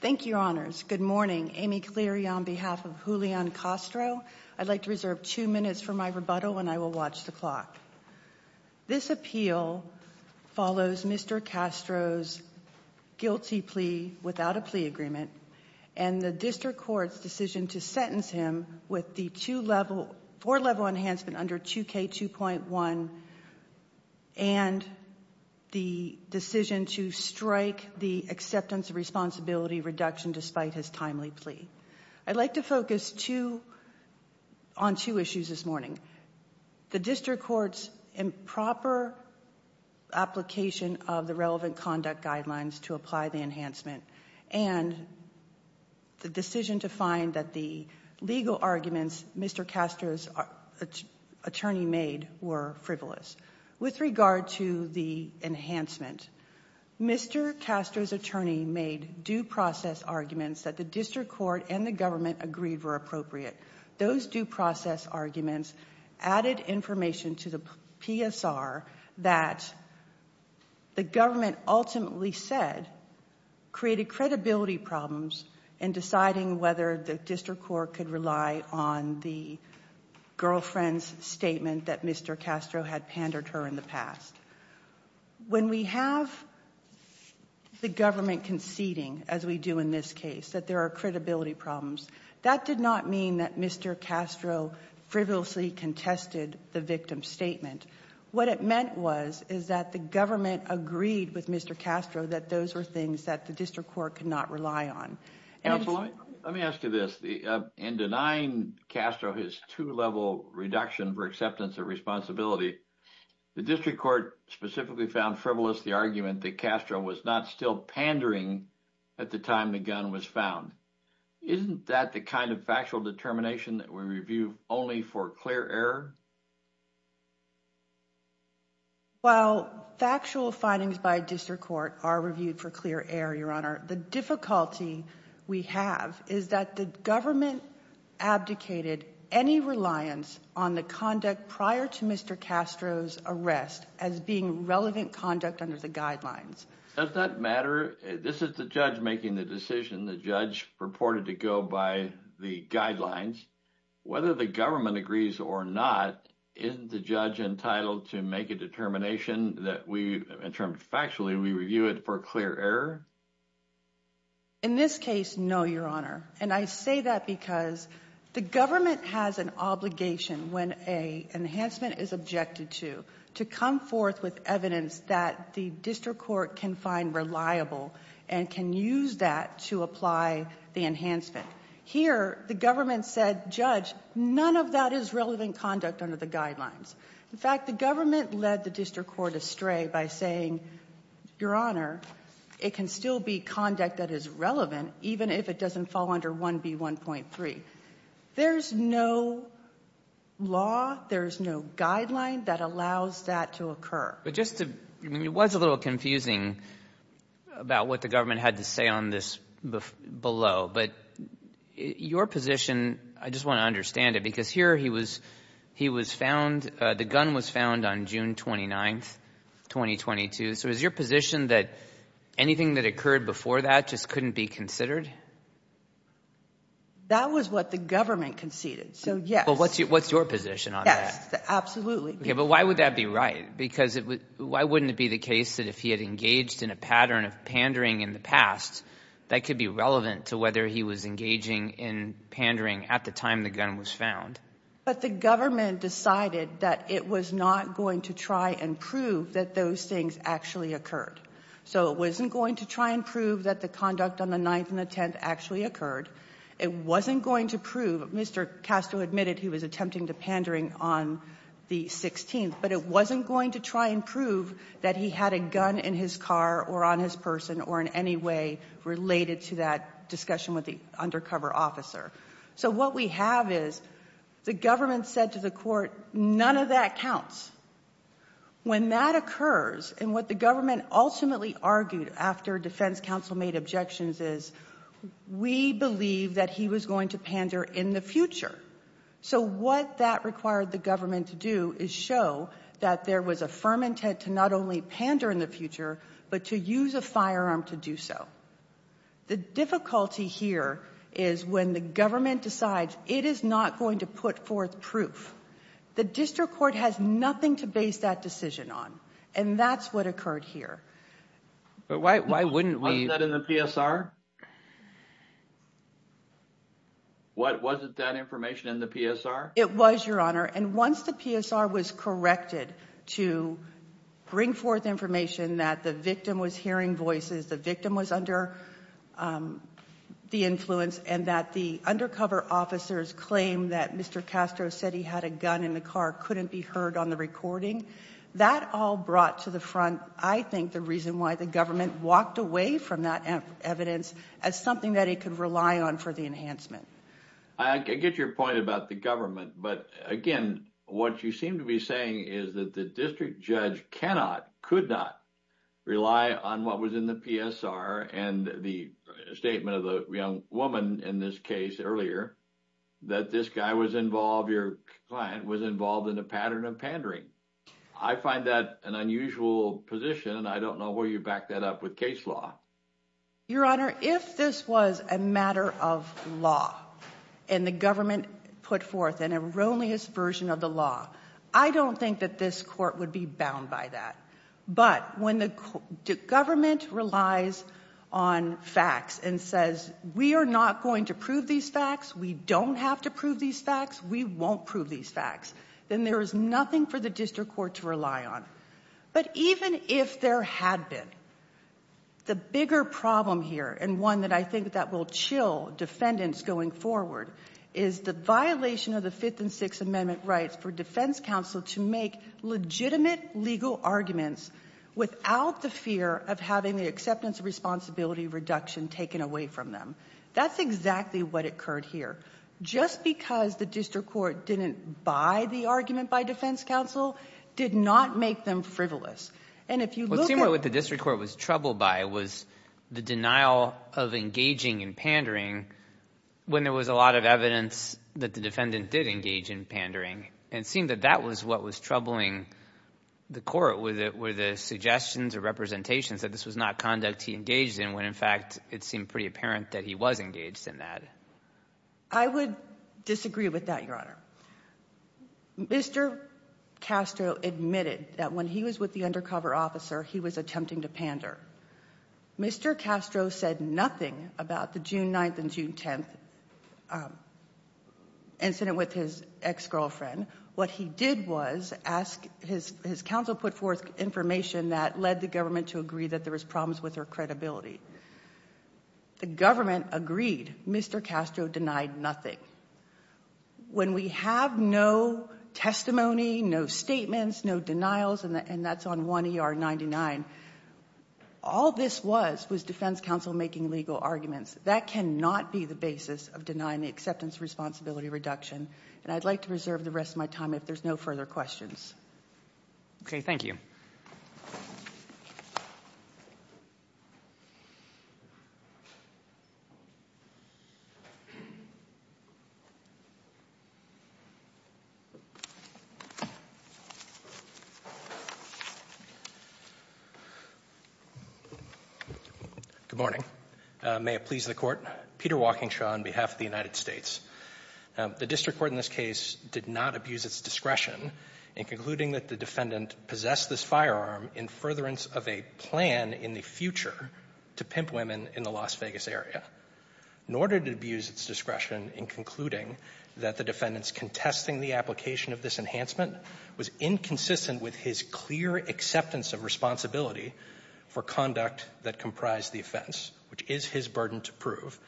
Thank you, Your Honors. Good morning. Amy Cleary on behalf of Julian Castro. I'd like to reserve two minutes for my rebuttal and I will watch the clock. This appeal follows Mr. Castro's guilty plea without a plea agreement and the District Court's decision to sentence him with the four-level enhancement under 2K2.1 and the decision to strike the acceptance of responsibility reduction despite his timely plea. I'd like to focus on two issues this morning. The District Court's improper application of the relevant conduct guidelines to apply the enhancement and the decision to find that the legal arguments Mr. Castro's attorney made were frivolous. With regard to the enhancement, Mr. Castro's attorney made due process arguments that the District Court and the government agreed were appropriate. Those due process arguments added information to the PSR that the government ultimately said created credibility problems in deciding whether the District Court could rely on the girlfriend's statement that Mr. Castro had pandered her in the past. When we have the government conceding, as we do in this case, that there are credibility problems, that did not mean that Mr. Castro frivolously contested the victim's statement. What it meant was is that the government agreed with Mr. Castro that those were things that the District Court could not rely on. Counsel, let me ask you this. In denying Castro his two-level reduction for acceptance of responsibility, the District Court specifically found frivolous the argument that Castro was not still pandering at the time the gun was found. Isn't that the kind of factual determination that we review only for clear error? While factual findings by District Court are reviewed for clear error, Your Honor, the difficulty we have is that the government abdicated any reliance on the conduct prior to Mr. Castro's arrest as being relevant conduct under the guidelines. Does that matter? This is the judge making the decision, the judge purported to go by the guidelines. Whether the government agrees or not, isn't the judge entitled to make a determination that we, in terms of factually, we review it for clear error? In this case, no, Your Honor. And I say that because the government has an obligation when an enhancement is objected to, to come forth with evidence that the District Court can find reliable and can use that to apply the enhancement. Here, the government said, Judge, none of that is relevant conduct under the guidelines. In fact, the government led the District Court astray by saying, Your Honor, it can still be conduct that is relevant even if it doesn't fall under 1B1.3. There's no law, there's no guideline that allows that to occur. But just to, I mean, it was a little confusing about what the government had to say on this below, but your position, I just want to understand it, because here he was, he was found, the gun was found on June 29th, 2022. So is your position that anything that occurred before that just couldn't be considered? That was what the government conceded, so yes. Well, what's your position on that? Yes, absolutely. Okay, but why would that be right? Because why wouldn't it be the case that if he had engaged in a pattern of pandering in the past, that could be relevant to whether he was engaging in pandering at the time the gun was found? But the government decided that it was not going to try and prove that those things actually occurred. So it wasn't going to try and prove that the conduct on the 9th and the 10th actually occurred. It wasn't going to prove, Mr. Castro admitted he was attempting to pandering on the 16th, but it wasn't going to try and prove that he had a gun in his car or on his person or in any way related to that discussion with the undercover officer. So what we have is the government said to the Court, none of that counts. When that occurs, and what the government ultimately argued after defense counsel made objections is we believe that he was going to pander in the future. So what that required the government to do is show that there was a firm intent to not only pander in the future, but to use a firearm to do so. The difficulty here is when the government decides it is not going to put forth proof. The district court has nothing to base that decision on. And that's what occurred here. But why wouldn't we? Wasn't that in the PSR? Wasn't that information in the PSR? It was, Your Honor, and once the PSR was corrected to bring forth information that the victim was hearing voices, the victim was under the influence, and that the undercover officers claimed that Mr. Castro said he had a gun in the car couldn't be heard on the recording. That all brought to the front, I think, the reason why the government walked away from that evidence as something that it could rely on for the enhancement. I get your point about the government. But, again, what you seem to be saying is that the district judge cannot, could not rely on what was in the PSR and the statement of the young woman in this case earlier that this guy was involved, your client was involved in a pattern of pandering. I find that an unusual position, and I don't know where you back that up with case law. Your Honor, if this was a matter of law and the government put forth an erroneous version of the law, I don't think that this court would be bound by that. But when the government relies on facts and says we are not going to prove these facts, we don't have to prove these facts, we won't prove these facts, then there is nothing for the district court to rely on. But even if there had been, the bigger problem here, and one that I think that will chill defendants going forward, is the violation of the Fifth and Sixth Amendment rights for defense counsel to make legitimate legal arguments without the fear of having the acceptance of responsibility reduction taken away from them. That's exactly what occurred here. Just because the district court didn't buy the argument by defense counsel did not make them frivolous. What seemed like what the district court was troubled by was the denial of engaging in pandering when there was a lot of evidence that the defendant did engage in pandering. And it seemed that that was what was troubling the court were the suggestions or representations that this was not conduct he engaged in when in fact it seemed pretty apparent that he was engaged in that. I would disagree with that, your Honor. Mr. Castro admitted that when he was with the undercover officer he was attempting to pander. Mr. Castro said nothing about the June 9th and June 10th incident with his ex-girlfriend. What he did was ask, his counsel put forth information that led the government to agree that there was problems with her credibility. The government agreed. Mr. Castro denied nothing. When we have no testimony, no statements, no denials, and that's on 1 ER 99, all this was was defense counsel making legal arguments. That cannot be the basis of denying the acceptance of responsibility reduction. And I'd like to reserve the rest of my time if there's no further questions. Okay, thank you. Good morning. May it please the Court. Peter Walkingshaw on behalf of the United States. The district court in this case did not abuse its discretion in concluding that the defendant possessed this firearm in furtherance of a plan in the future to pimp women in the Las Vegas area. Nor did it abuse its discretion in concluding that the defendant's contesting the application of this enhancement was inconsistent with his clear acceptance of responsibility for conduct that comprised the offense, which is his burden to prove.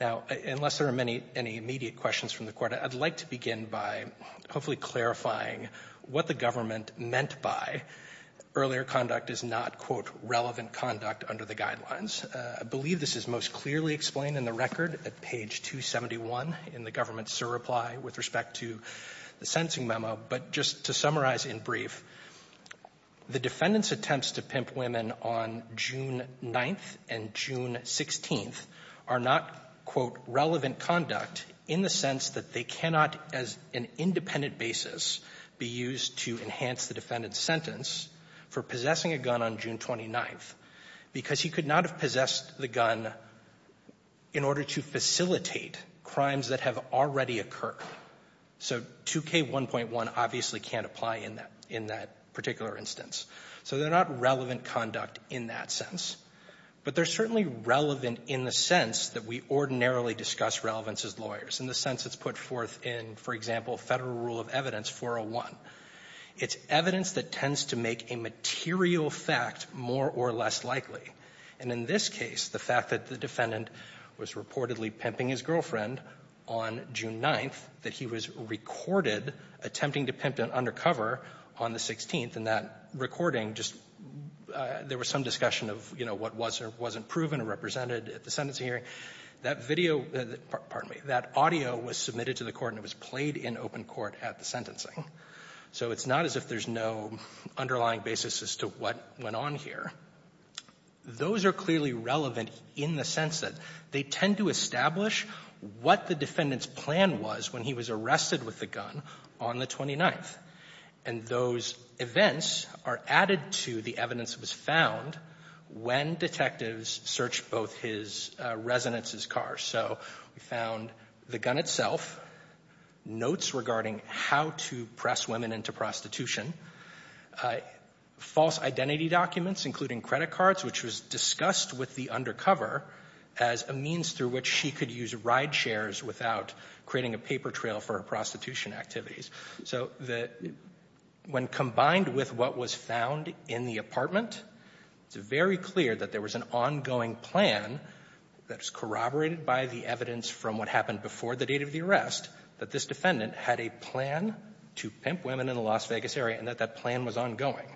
Now, unless there are many any immediate questions from the Court, I'd like to begin by hopefully clarifying what the government meant by earlier conduct is not, quote, relevant conduct under the guidelines. I believe this is most clearly explained in the record at page 271 in the government's surreply with respect to the sentencing memo. But just to summarize in brief, the defendant's attempts to pimp women on June 9th and June 16th are not, quote, relevant conduct in the sense that they cannot, as an independent basis, be used to enhance the defendant's sentence for possessing a gun on June 29th. Because he could not have possessed the gun in order to facilitate crimes that have already occurred. So 2K1.1 obviously can't apply in that particular instance. So they're not relevant conduct in that sense. But they're certainly relevant in the sense that we ordinarily discuss relevance as lawyers, in the sense it's put forth in, for example, Federal Rule of Evidence 401. It's evidence that tends to make a material fact more or less likely. And in this case, the fact that the defendant was reportedly pimping his girlfriend on June 9th, that he was recorded attempting to pimp an undercover on the 16th, and that recording just — there was some discussion of, you know, what was or wasn't proven or represented at the sentencing hearing. That video — pardon me — that audio was submitted to the court and it was played in open court at the sentencing. So it's not as if there's no underlying basis as to what went on here. Those are clearly relevant in the sense that they tend to establish what the defendant's plan was when he was arrested with the gun on the 29th. And those events are added to the evidence that was found when detectives searched both his residence's cars. So we found the gun itself, notes regarding how to press women into prostitution, false identity documents, including credit cards, which was discussed with the undercover as a means through which she could use ride shares without creating a paper trail for her prostitution activities. So when combined with what was found in the apartment, it's very clear that there was an ongoing plan that was corroborated by the evidence from what happened before the date of the arrest, that this defendant had a plan to pimp women in the Las Vegas area and that that plan was ongoing.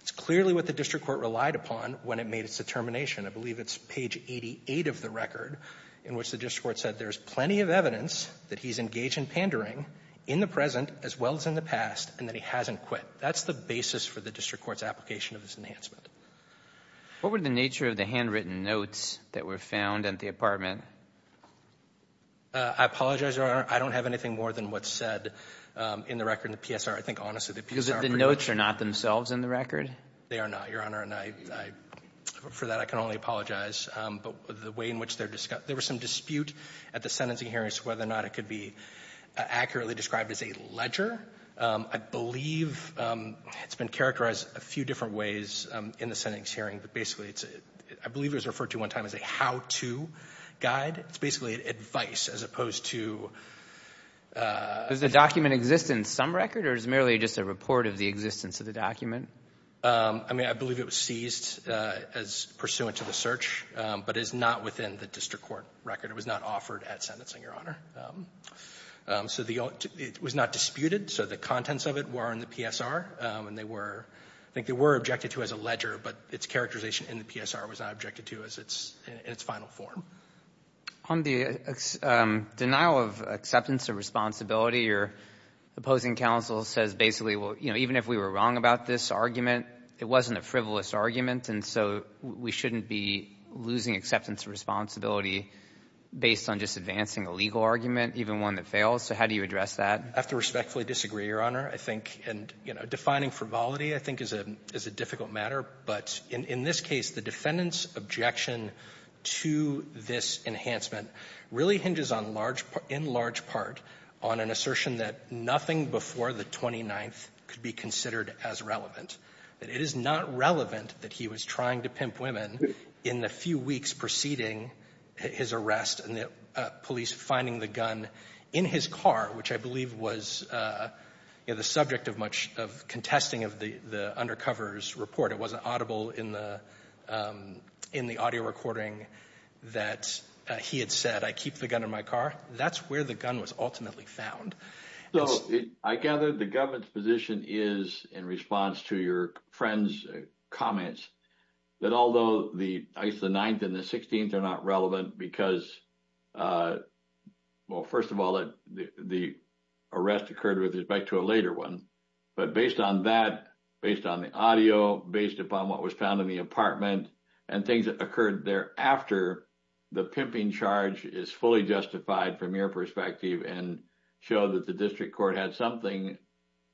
It's clearly what the district court relied upon when it made its determination. I believe it's page 88 of the record in which the district court said there's plenty of evidence that he's engaged in pandering in the present as well as in the past and that he hasn't quit. That's the basis for the district court's application of this enhancement. What were the nature of the handwritten notes that were found at the apartment? I apologize, Your Honor. I don't have anything more than what's said in the record in the PSR. I think, honestly, the PSR pretty much — Because the notes are not themselves in the record? They are not, Your Honor. And I — for that, I can only apologize. But the way in which they're — there was some dispute at the sentencing hearing as to whether or not it could be accurately described as a ledger. I believe it's been characterized a few different ways in the sentencing hearing, but basically it's — I believe it was referred to one time as a how-to guide. It's basically advice as opposed to — Does the document exist in some record or is it merely just a report of the existence of the document? I mean, I believe it was seized as pursuant to the search, but it is not within the district court record. It was not offered at sentencing, Your Honor. So the — it was not disputed, so the contents of it were in the PSR, and they were — I think they were objected to as a ledger, but its characterization in the PSR was not objected to as its — in its final form. On the denial of acceptance of responsibility, your opposing counsel says basically, well, you know, even if we were wrong about this argument, it wasn't a frivolous argument, and so we shouldn't be losing acceptance of responsibility based on just advancing a legal argument, even one that fails. So how do you address that? I have to respectfully disagree, Your Honor. I think — and, you know, defining frivolity I think is a — is a difficult matter, but in this case, the defendant's objection to this enhancement really hinges on large — in large part on an assertion that nothing before the 29th could be considered as relevant, that it is not relevant that he was trying to pimp women in the few weeks preceding his arrest and the police finding the gun in his car, which I believe was, you know, the subject of much of contesting of the — the undercover's report. It wasn't audible in the — in the audio recording that he had said, I keep the gun in my car. That's where the gun was ultimately found. So I gather the government's position is, in response to your friend's comments, that although the — I guess the 9th and the 16th are not relevant because — well, first of all, the arrest occurred with respect to a later one, but based on that, based on the audio, based upon what was found in the apartment and things that occurred thereafter, the perspective and show that the district court had something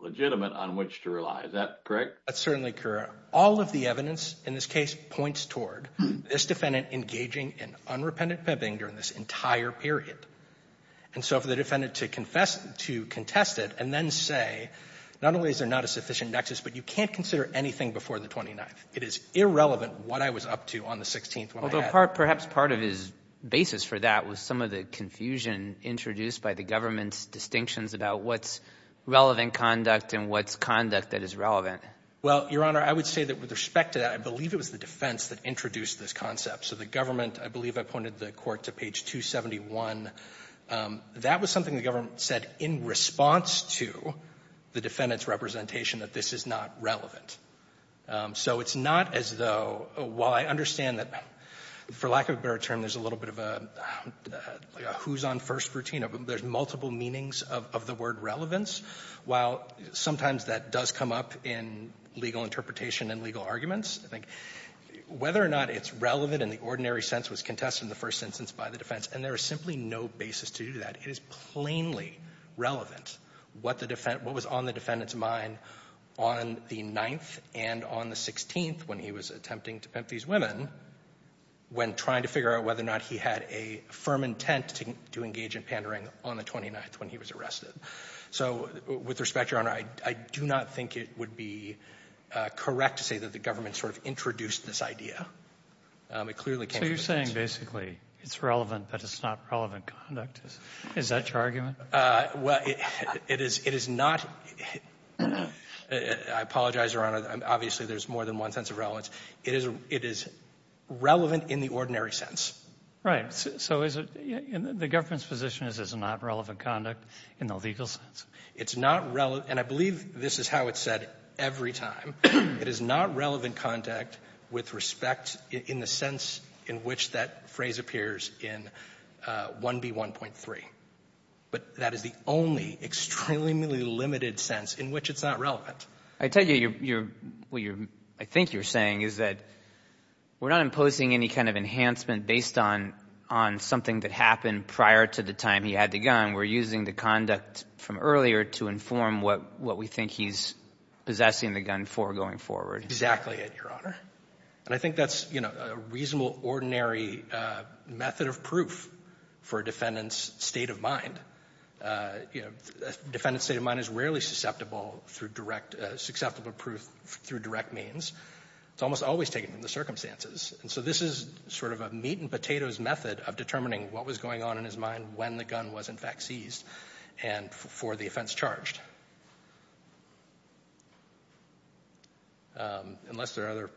legitimate on which to rely. Is that correct? That's certainly correct. All of the evidence in this case points toward this defendant engaging in unrepentant pimping during this entire period. And so for the defendant to confess — to contest it and then say, not only is there not a sufficient nexus, but you can't consider anything before the 29th, it is irrelevant what I was up to on the 16th when I had — Well, but perhaps part of his basis for that was some of the confusion introduced by the government's distinctions about what's relevant conduct and what's conduct that is relevant. Well, Your Honor, I would say that with respect to that, I believe it was the defense that introduced this concept. So the government — I believe I pointed the court to page 271. That was something the government said in response to the defendant's representation that this is not relevant. So it's not as though — while I understand that, for lack of a better term, there's a little bit of a who's on first routine. There's multiple meanings of the word relevance. While sometimes that does come up in legal interpretation and legal arguments, I think whether or not it's relevant in the ordinary sense was contested in the first instance by the defense. And there is simply no basis to do that. It is plainly irrelevant what the — what was on the defendant's mind on the 9th and on the 16th when he was attempting to pimp these women when trying to figure out whether or not he had a firm intent to engage in pandering on the 29th when he was arrested. So with respect, Your Honor, I do not think it would be correct to say that the government sort of introduced this idea. It clearly came from the defense. So you're saying basically it's relevant but it's not relevant conduct. Is that your argument? Well, it is — it is not — I apologize, Your Honor. Obviously, there's more than one sense of relevance. It is — it is relevant in the ordinary sense. Right. So is it — the government's position is it's not relevant conduct in the legal sense? It's not — and I believe this is how it's said every time. It is not relevant conduct with respect in the sense in which that phrase appears in 1B1.3. But that is the only extremely limited sense in which it's not relevant. I tell you, you're — what you're — I think you're saying is that we're not imposing any kind of enhancement based on — on something that happened prior to the time he had the gun. We're using the conduct from earlier to inform what — what we think he's going to do going forward. Exactly it, Your Honor. And I think that's, you know, a reasonable ordinary method of proof for a defendant's state of mind. You know, a defendant's state of mind is rarely susceptible through direct — susceptible proof through direct means. It's almost always taken from the circumstances. And so this is sort of a meat-and-potatoes method of determining what was going on in his mind when the Unless there are other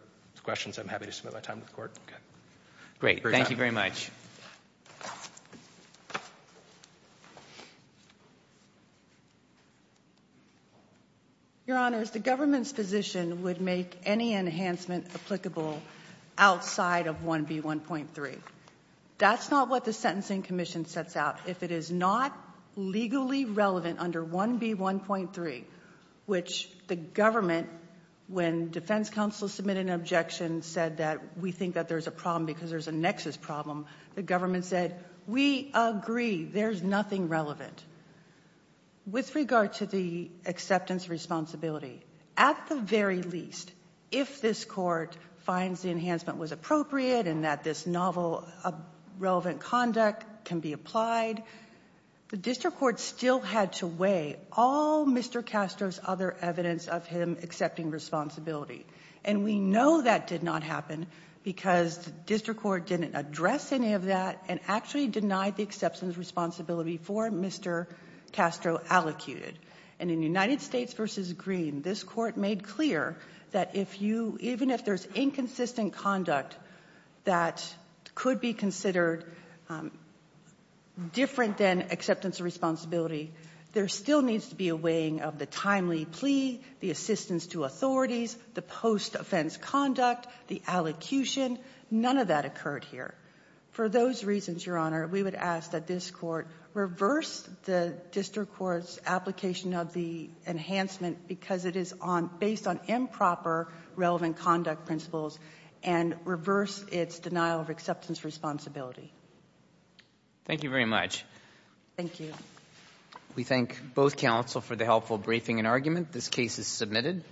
questions, I'm happy to spend my time with the Court. Great. Thank you very much. Your Honors, the government's position would make any enhancement applicable outside of 1B1.3. That's not what the Sentencing Commission sets out. If it is not legally relevant under 1B1.3, which the government, when defense counsel submitted an objection, said that we think that there's a problem because there's a nexus problem, the government said, we agree, there's nothing relevant. With regard to the acceptance responsibility, at the very least, if this Court finds the enhancement was appropriate and that this novel, relevant conduct can be applied, the district court still had to weigh all Mr. Castro's other evidence of him accepting responsibility. And we know that did not happen because the district court didn't address any of that and actually denied the acceptance responsibility for Mr. Castro allocated. And in United States v. Green, this Court made clear that if you — even if there's inconsistent conduct that could be considered different than acceptance of responsibility, there still needs to be a weighing of the timely plea, the assistance to authorities, the post-offense conduct, the allocution. None of that occurred here. For those reasons, Your Honor, we would ask that this Court reverse the district court's application of the enhancement because it is on — based on improper relevant conduct principles and reverse its denial of acceptance responsibility. Thank you very much. Thank you. We thank both counsel for the helpful briefing and argument. This case is submitted.